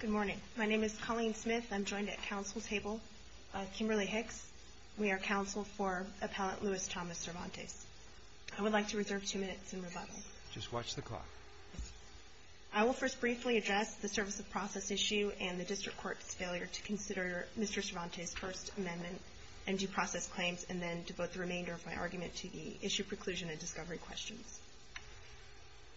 Good morning. My name is Colleen Smith. I'm joined at council table by Kimberly Hicks. We are counsel for Appellant Louis Thomas Cervantes. I would like to reserve two minutes in rebuttal. Just watch the clock. I will first briefly address the service of process issue and the District Court's failure to consider Mr. Cervantes' First Amendment and due process claims, and then devote the remainder of my argument to the issue preclusion and discovery questions.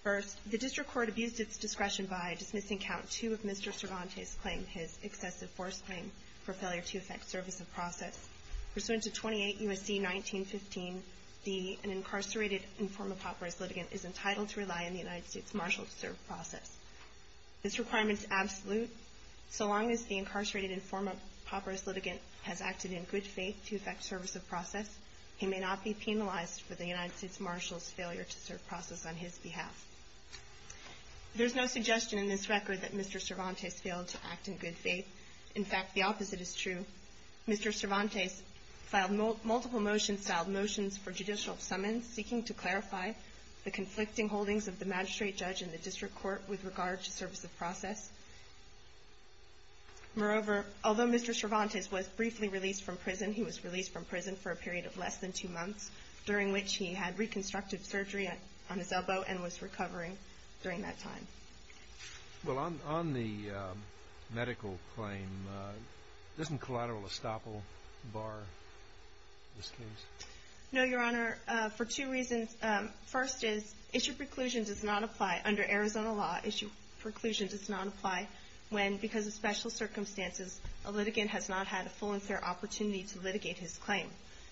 First, the District Court abused its discretion by dismissing Count 2 of Mr. Cervantes' claim, his excessive force claim, for failure to affect service of process. Pursuant to 28 U.S.C. 1915d, an incarcerated informed papyrus litigant is entitled to rely on the United States Marshal to serve process. This requirement is absolute. So long as the incarcerated informed papyrus litigant has acted in good faith to affect service of process, he may not be penalized for the United States Marshal's failure to serve process on his behalf. There's no suggestion in this record that Mr. Cervantes failed to act in good faith. In fact, the opposite is true. Mr. Cervantes filed multiple motions, filed motions for judicial summons, seeking to clarify the conflicting holdings of the magistrate judge and the District Court with regard to service of process. Moreover, although Mr. Cervantes was briefly released from prison, he was released from prison for a period of less than two months, during which he had reconstructive surgery on his elbow and was recovering during that time. Well, on the medical claim, doesn't collateral estoppel bar this case? No, Your Honor, for two reasons. First is, issue preclusion does not apply under Arizona law. Issue preclusion does not apply when, because of special circumstances, a litigant has not had a full and fair opportunity to litigate his claim.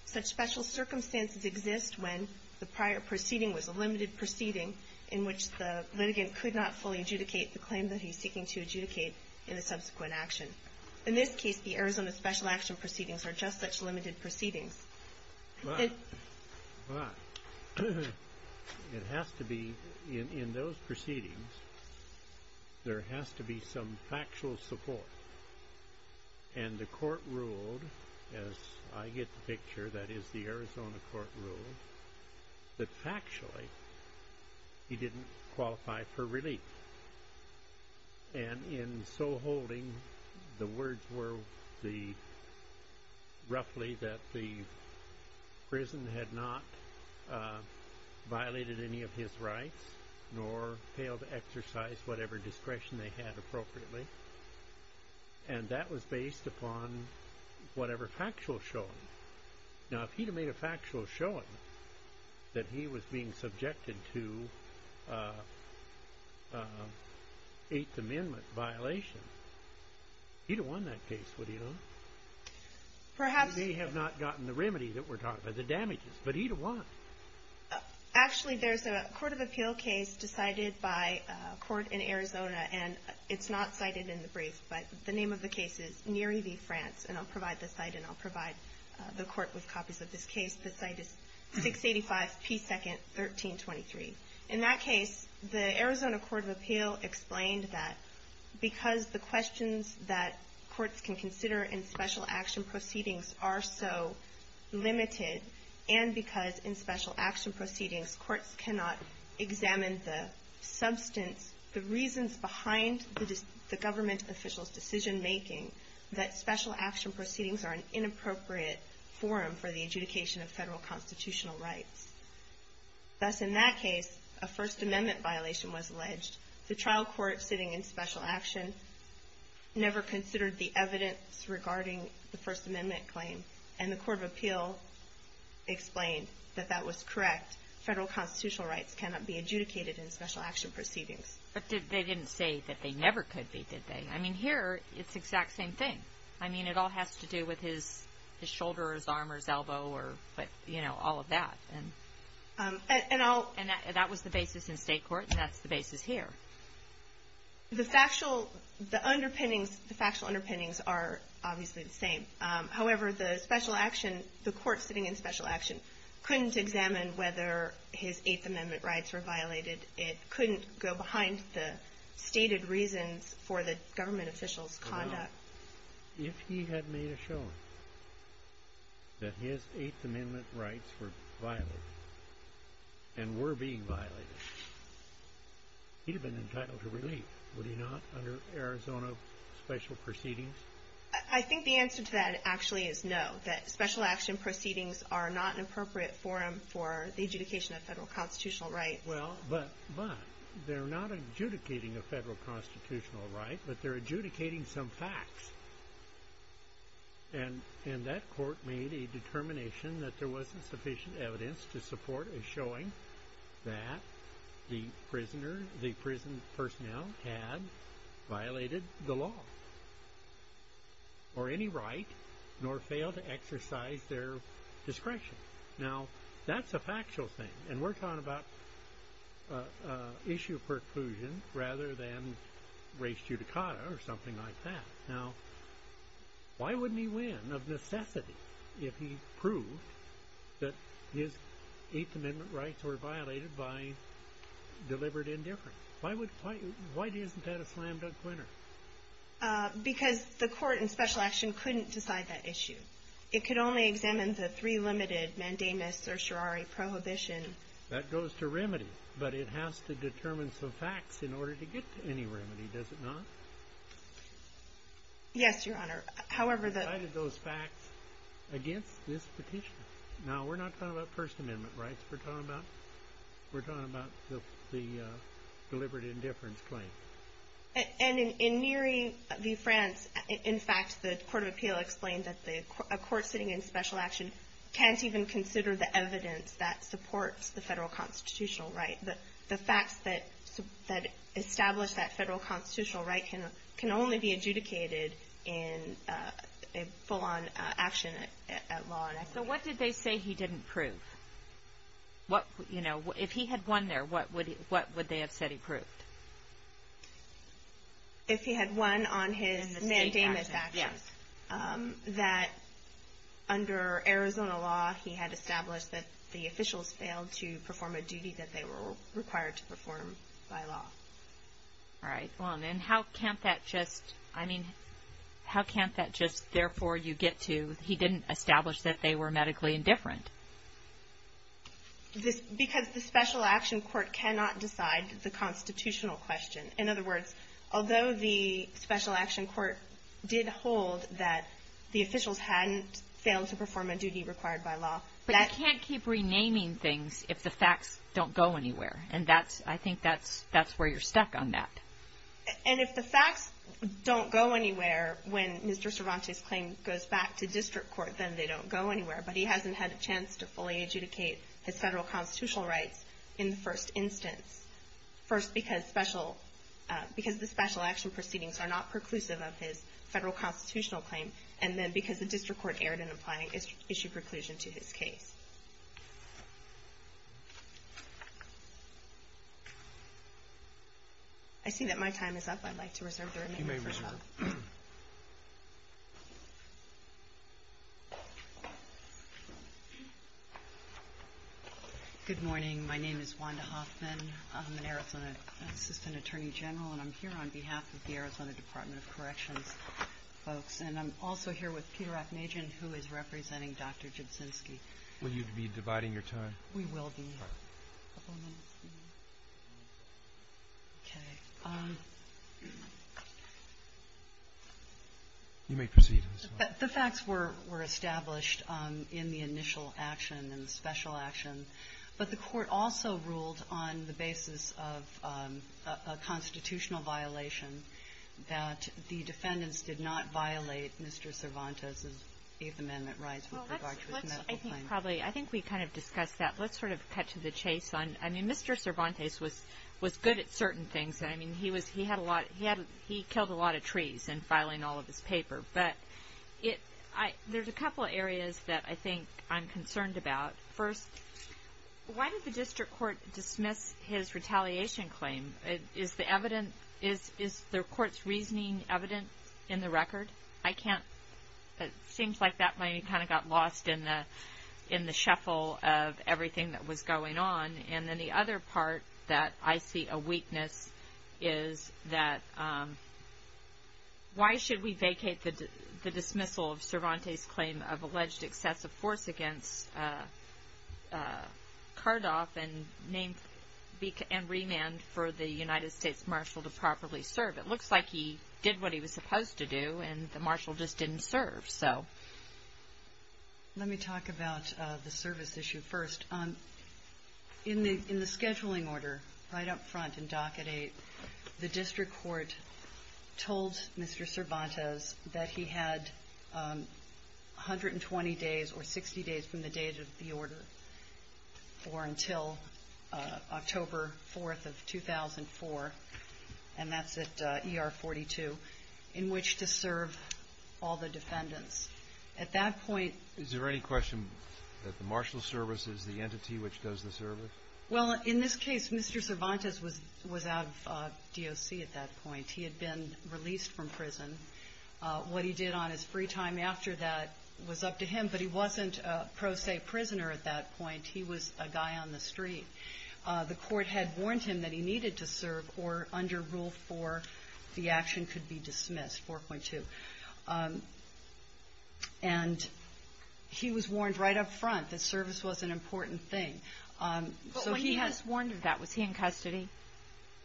Such special circumstances exist when the prior proceeding was a limited proceeding in which the litigant could not fully adjudicate the claim that he's seeking to adjudicate in a subsequent action. In this case, the Arizona special action proceedings are just such limited proceedings. But it has to be, in those proceedings, there has to be some factual support. And the court ruled, as I get the picture, that is the Arizona court ruled, that factually he didn't qualify for relief. And in so holding, the words were roughly that the prison had not violated any of his rights nor failed to exercise whatever discretion they had appropriately. And that was based upon whatever factual showing. Now, if he'd have made a factual showing that he was being subjected to Eighth Amendment violation, he'd have won that case, would he not? He may have not gotten the remedy that we're talking about, the damages, but he'd have won. Actually, there's a court of appeal case decided by a court in Arizona, and it's not cited in the brief, but the name of the case is Neri v. France. And I'll provide the site and I'll provide the court with copies of this case. The site is 685 P. 2nd, 1323. In that case, the Arizona court of appeal explained that because the questions that courts can consider in special action proceedings are so limited, and because in special action proceedings, courts cannot examine the substance, the reasons behind the government official's decision-making, that special action proceedings are an inappropriate forum for the adjudication of federal constitutional rights. Thus, in that case, a First Amendment violation was alleged. The trial court sitting in special action never considered the evidence regarding the First Amendment claim, and the court of appeal explained that that was correct. Federal constitutional rights cannot be adjudicated in special action proceedings. But they didn't say that they never could be, did they? I mean, here, it's the exact same thing. I mean, it all has to do with his shoulder or his arm or his elbow or, you know, all of that. And that was the basis in state court, and that's the basis here. The factual underpinnings are obviously the same. However, the special action, the court sitting in special action, couldn't examine whether his Eighth Amendment rights were violated. It couldn't go behind the stated reasons for the government official's conduct. If he had made a showing that his Eighth Amendment rights were violated and were being violated, he'd have been entitled to relief, would he not, under Arizona special proceedings? I think the answer to that actually is no, that special action proceedings are not an appropriate forum for the adjudication of federal constitutional rights. Well, but they're not adjudicating a federal constitutional right, but they're adjudicating some facts. And that court made a determination that there wasn't sufficient evidence to support a showing that the prisoner, the prison personnel had violated the law or any right nor failed to exercise their discretion. Now, that's a factual thing, and we're talking about issue of preclusion rather than res judicata or something like that. Now, why wouldn't he win of necessity if he proved that his Eighth Amendment rights were violated by deliberate indifference? Why isn't that a slam dunk winner? Because the court in special action couldn't decide that issue. It could only examine the three limited mandamus certiorari prohibition. That goes to remedy, but it has to determine some facts in order to get to any remedy, does it not? Yes, Your Honor. How did those facts against this petition? Now, we're not talking about First Amendment rights. We're talking about the deliberate indifference claim. And in Neary v. France, in fact, the Court of Appeal explained that a court sitting in special action can't even consider the evidence that supports the federal constitutional right. The facts that establish that federal constitutional right can only be adjudicated in a full-on action at law enforcement. So what did they say he didn't prove? You know, if he had won there, what would they have said he proved? If he had won on his mandamus actions. Yes. That under Arizona law, he had established that the officials failed to perform a duty that they were required to perform by law. All right. Well, then how can't that just, I mean, how can't that just, therefore, you get to, he didn't establish that they were medically indifferent? Because the special action court cannot decide the constitutional question. In other words, although the special action court did hold that the officials hadn't failed to perform a duty required by law. But you can't keep renaming things if the facts don't go anywhere. And that's, I think that's where you're stuck on that. And if the facts don't go anywhere when Mr. Cervantes' claim goes back to district court, then they don't go anywhere. But he hasn't had a chance to fully adjudicate his federal constitutional rights in the first instance. First, because special, because the special action proceedings are not preclusive of his federal constitutional claim. And then because the district court erred in applying issue preclusion to his case. I see that my time is up. I'd like to reserve the remaining time. You may reserve it. Good morning. My name is Wanda Hoffman. I'm an Arizona assistant attorney general, and I'm here on behalf of the Arizona Department of Corrections folks. And I'm also here with Peter Aknajan, who is representing Dr. Jedsinski. We will be. All right. Okay. You may proceed. The facts were established in the initial action and the special action, but the Court also ruled on the basis of a constitutional violation that the defendants did not violate Mr. Cervantes' Eighth Amendment rights with regard to his medical claim. I think we kind of discussed that. Let's sort of cut to the chase. I mean, Mr. Cervantes was good at certain things. I mean, he killed a lot of trees in filing all of his paper. But there's a couple areas that I think I'm concerned about. First, why did the district court dismiss his retaliation claim? Is the court's reasoning evident in the record? It seems like that maybe kind of got lost in the shuffle of everything that was going on. And then the other part that I see a weakness is that why should we vacate the dismissal of Cervantes' claim of alleged excessive force against Cardoff and remand for the United States marshal to properly serve? It looks like he did what he was supposed to do, and the marshal just didn't serve. Let me talk about the service issue first. In the scheduling order right up front in Docket Eight, the district court told Mr. Cervantes that he had 120 days or 60 days from the date of the order, or until October 4th of 2004, and that's at ER 42, in which to serve all the defendants. At that point — Is there any question that the marshal's service is the entity which does the service? Well, in this case, Mr. Cervantes was out of DOC at that point. He had been released from prison. What he did on his free time after that was up to him, but he wasn't a pro se prisoner at that point. He was a guy on the street. The court had warned him that he needed to serve or, under Rule 4, the action could be dismissed, 4.2. And he was warned right up front that service was an important thing. But when he was warned of that, was he in custody?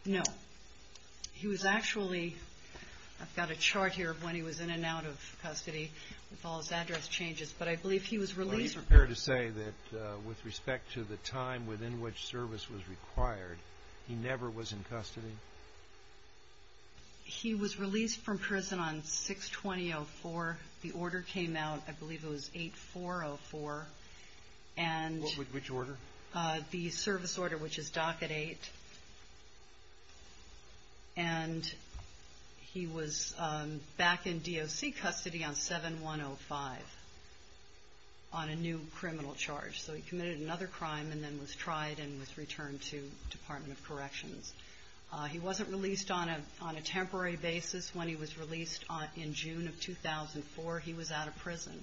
No. He was actually — I've got a chart here of when he was in and out of custody, with all his address changes. But I believe he was released — Are you prepared to say that, with respect to the time within which service was required, he never was in custody? He was released from prison on 6-20-04. The order came out, I believe it was 8-4-04. And — Which order? The service order, which is Docket 8. And he was back in DOC custody on 7-1-05, on a new criminal charge. So he committed another crime and then was tried and was returned to the Department of Corrections. He wasn't released on a temporary basis. When he was released in June of 2004, he was out of prison.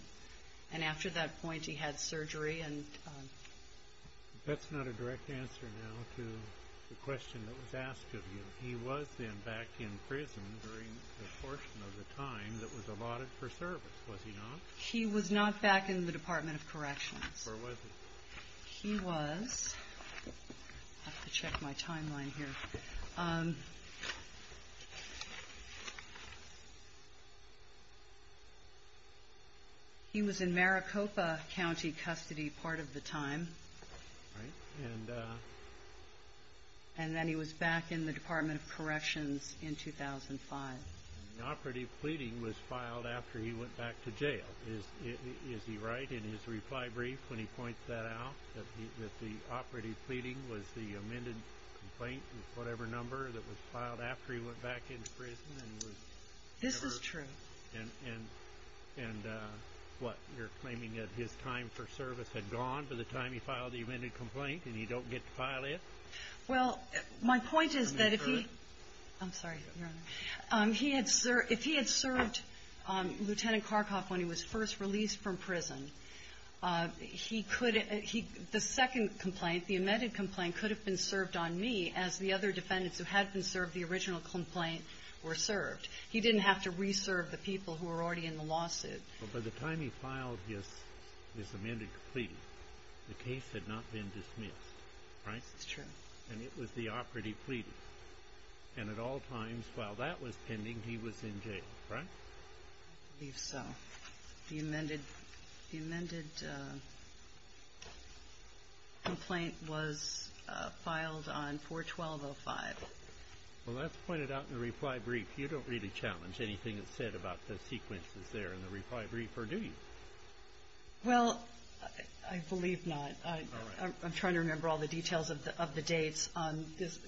And after that point, he had surgery and — That's not a direct answer now to the question that was asked of you. He was then back in prison during the portion of the time that was allotted for service, was he not? He was not back in the Department of Corrections. Or was he? He was. I have to check my timeline here. He was in Maricopa County custody part of the time. Right. And then he was back in the Department of Corrections in 2005. And the operative pleading was filed after he went back to jail. Is he right in his reply brief when he points that out, that the operative pleading was the amended complaint, whatever number, that was filed after he went back into prison? This is true. And what, you're claiming that his time for service had gone by the time he filed the amended complaint, and he don't get to file it? Well, my point is that if he — I'm sorry, Your Honor. If he had served Lieutenant Karkoff when he was first released from prison, he could — the second complaint, the amended complaint, could have been served on me as the other defendants who had been served the original complaint were served. He didn't have to reserve the people who were already in the lawsuit. Well, by the time he filed his amended plea, the case had not been dismissed, right? That's true. And it was the operative pleading. And at all times, while that was pending, he was in jail, right? I believe so. The amended complaint was filed on 4-1205. Well, that's pointed out in the reply brief. You don't really challenge anything that's said about the sequences there in the reply brief, or do you? Well, I believe not. I'm trying to remember all the details of the dates on this.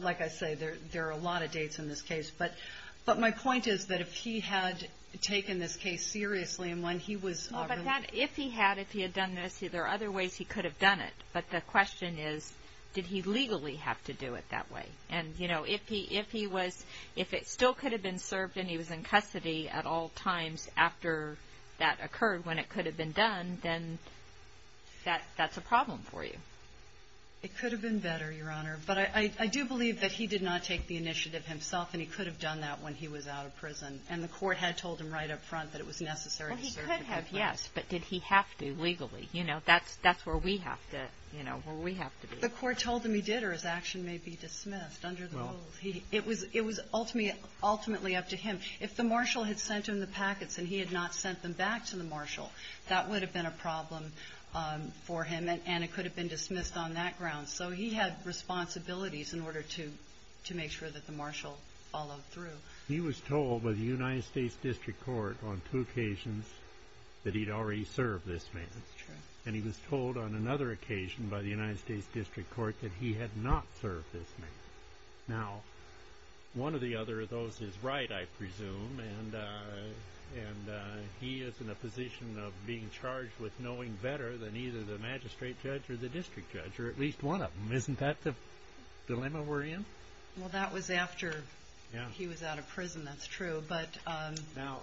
Like I say, there are a lot of dates in this case. But my point is that if he had taken this case seriously and when he was released — Well, but that — if he had, if he had done this, there are other ways he could have done it. But the question is, did he legally have to do it that way? And, you know, if he was — if it still could have been served and he was in custody at all times after that occurred, when it could have been done, then that's a problem for you. It could have been better, Your Honor. But I do believe that he did not take the initiative himself, and he could have done that when he was out of prison. And the court had told him right up front that it was necessary to serve the complaint. Well, he could have, yes. But did he have to legally? You know, that's where we have to, you know, where we have to be. The court told him he did or his action may be dismissed under the rules. It was ultimately up to him. If the marshal had sent him the packets and he had not sent them back to the marshal, that would have been a problem for him, and it could have been dismissed on that ground. So he had responsibilities in order to make sure that the marshal followed through. He was told by the United States District Court on two occasions that he'd already served this man. That's true. And he was told on another occasion by the United States District Court that he had not served this man. Now, one or the other of those is right, I presume, and he is in a position of being charged with knowing better than either the magistrate judge or the district judge, or at least one of them. Isn't that the dilemma we're in? Well, that was after he was out of prison. That's true. Now,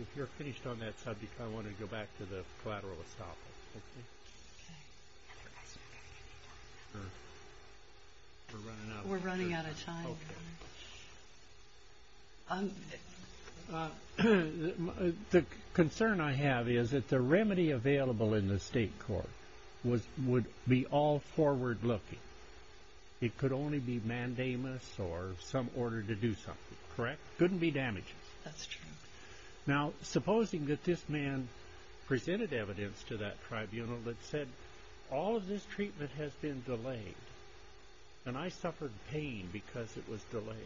if you're finished on that subject, I want to go back to the collateral estoppel. We're running out of time. Okay. The concern I have is that the remedy available in the state court would be all forward-looking. It could only be mandamus or some order to do something, correct? Couldn't be damaging. That's true. Now, supposing that this man presented evidence to that tribunal that said, all of this treatment has been delayed, and I suffered pain because it was delayed,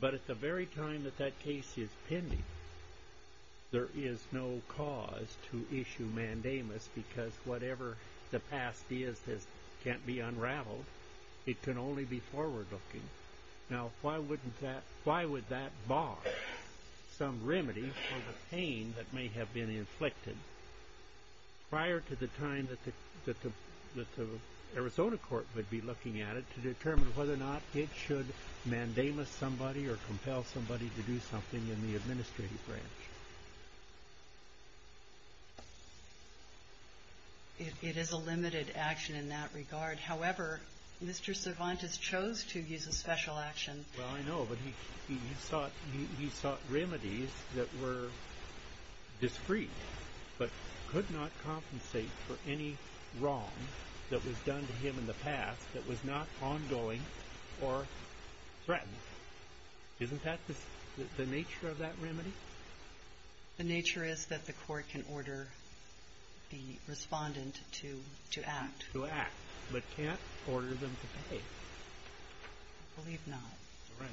but at the very time that that case is pending, there is no cause to issue mandamus because whatever the past is that can't be unraveled, it can only be forward-looking. Now, why would that bar some remedy for the pain that may have been inflicted prior to the time that the Arizona court would be looking at it to determine whether or not it should mandamus somebody or compel somebody to do something in the administrative branch? It is a limited action in that regard. However, Mr. Cervantes chose to use a special action. Well, I know, but he sought remedies that were discreet, but could not compensate for any wrong that was done to him in the past that was not ongoing or threatened. Isn't that the nature of that remedy? The nature is that the court can order the respondent to act. To act, but can't order them to pay. I believe not. Correct.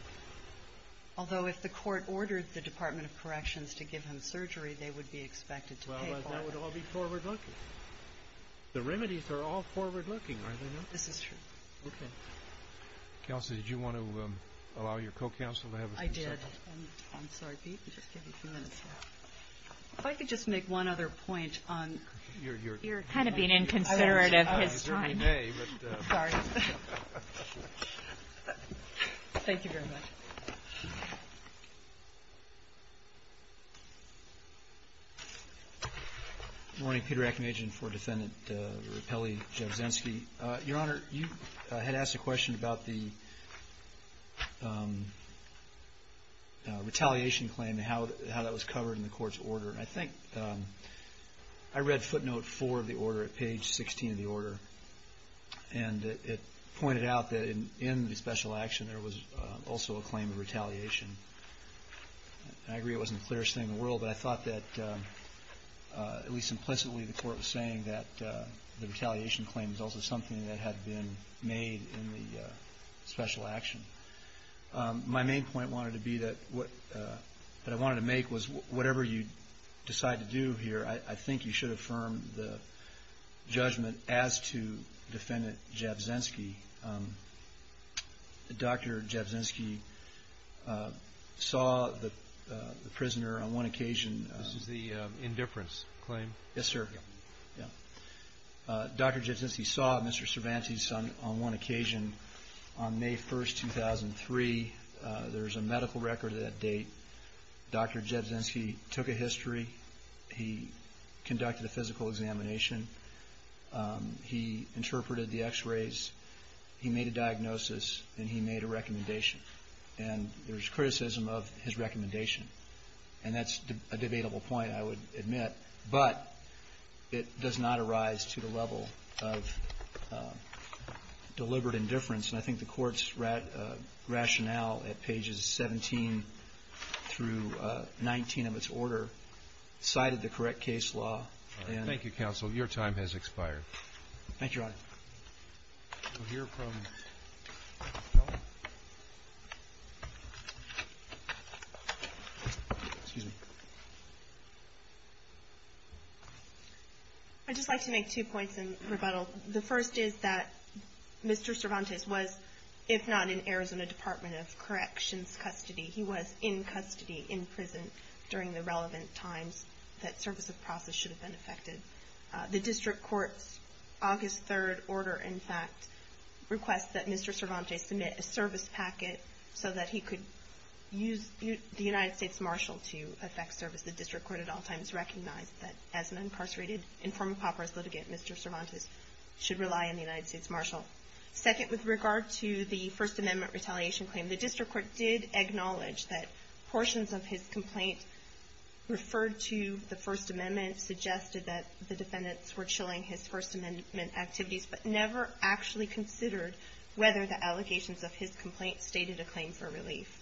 Although if the court ordered the Department of Corrections to give him surgery, they would be expected to pay for it. Well, that would all be forward-looking. The remedies are all forward-looking, are they not? This is true. Okay. Kelsey, did you want to allow your co-counsel to have a few seconds? I did. I'm sorry. Just give me a few minutes here. If I could just make one other point on your kind of being inconsiderate of his time. I was. I was. Good morning. Peter Akinagian for Defendant Rippelli-Jabrzinski. Your Honor, you had asked a question about the retaliation claim and how that was covered in the court's order. I think I read footnote four of the order at page 16 of the order, and it pointed out that in the special action there was also a claim of retaliation. I agree it wasn't the clearest thing in the world, but I thought that at least implicitly the court was saying that the retaliation claim was also something that had been made in the special action. My main point wanted to be that what I wanted to make was whatever you decide to do here, I think you should affirm the judgment as to Defendant Jabrzinski. Dr. Jabrzinski saw the prisoner on one occasion. This is the indifference claim? Yes, sir. Dr. Jabrzinski saw Mr. Cervantes on one occasion on May 1, 2003. There is a medical record of that date. Dr. Jabrzinski took a history. He conducted a physical examination. He interpreted the x-rays. He made a diagnosis, and he made a recommendation. And there was criticism of his recommendation, and that's a debatable point, I would admit. But it does not arise to the level of deliberate indifference, and I think the Court's rationale at pages 17 through 19 of its order cited the correct case law. Thank you, counsel. Your time has expired. Thank you, Your Honor. I'd just like to make two points in rebuttal. The first is that Mr. Cervantes was, if not in Arizona Department of Corrections custody, he was in custody in prison during the relevant times that service of process should have been effected. The District Court's August 3rd order, in fact, requests that Mr. Cervantes submit a service packet so that he could use the United States Marshal to effect service. The District Court at all times recognized that as an incarcerated informed papyrus litigant, Mr. Cervantes should rely on the United States Marshal. Second, with regard to the First Amendment retaliation claim, the District Court did acknowledge that portions of his complaint referred to the First Amendment, suggested that the defendants were chilling his First Amendment activities, but never actually considered whether the allegations of his complaint stated a claim for relief.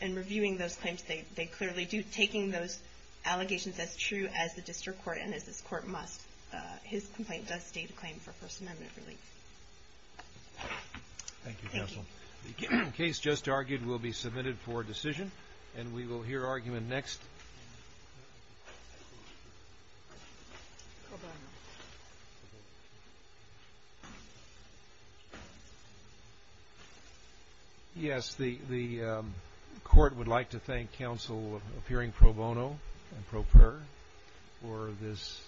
In reviewing those claims, they clearly do. Taking those allegations as true as the District Court and as this Court must, his complaint does state a claim for First Amendment relief. Thank you, counsel. The case just argued will be submitted for decision, and we will hear argument next. Yes, the Court would like to thank counsel for appearing pro bono and pro prayer for this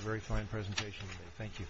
very fine presentation. Thank you.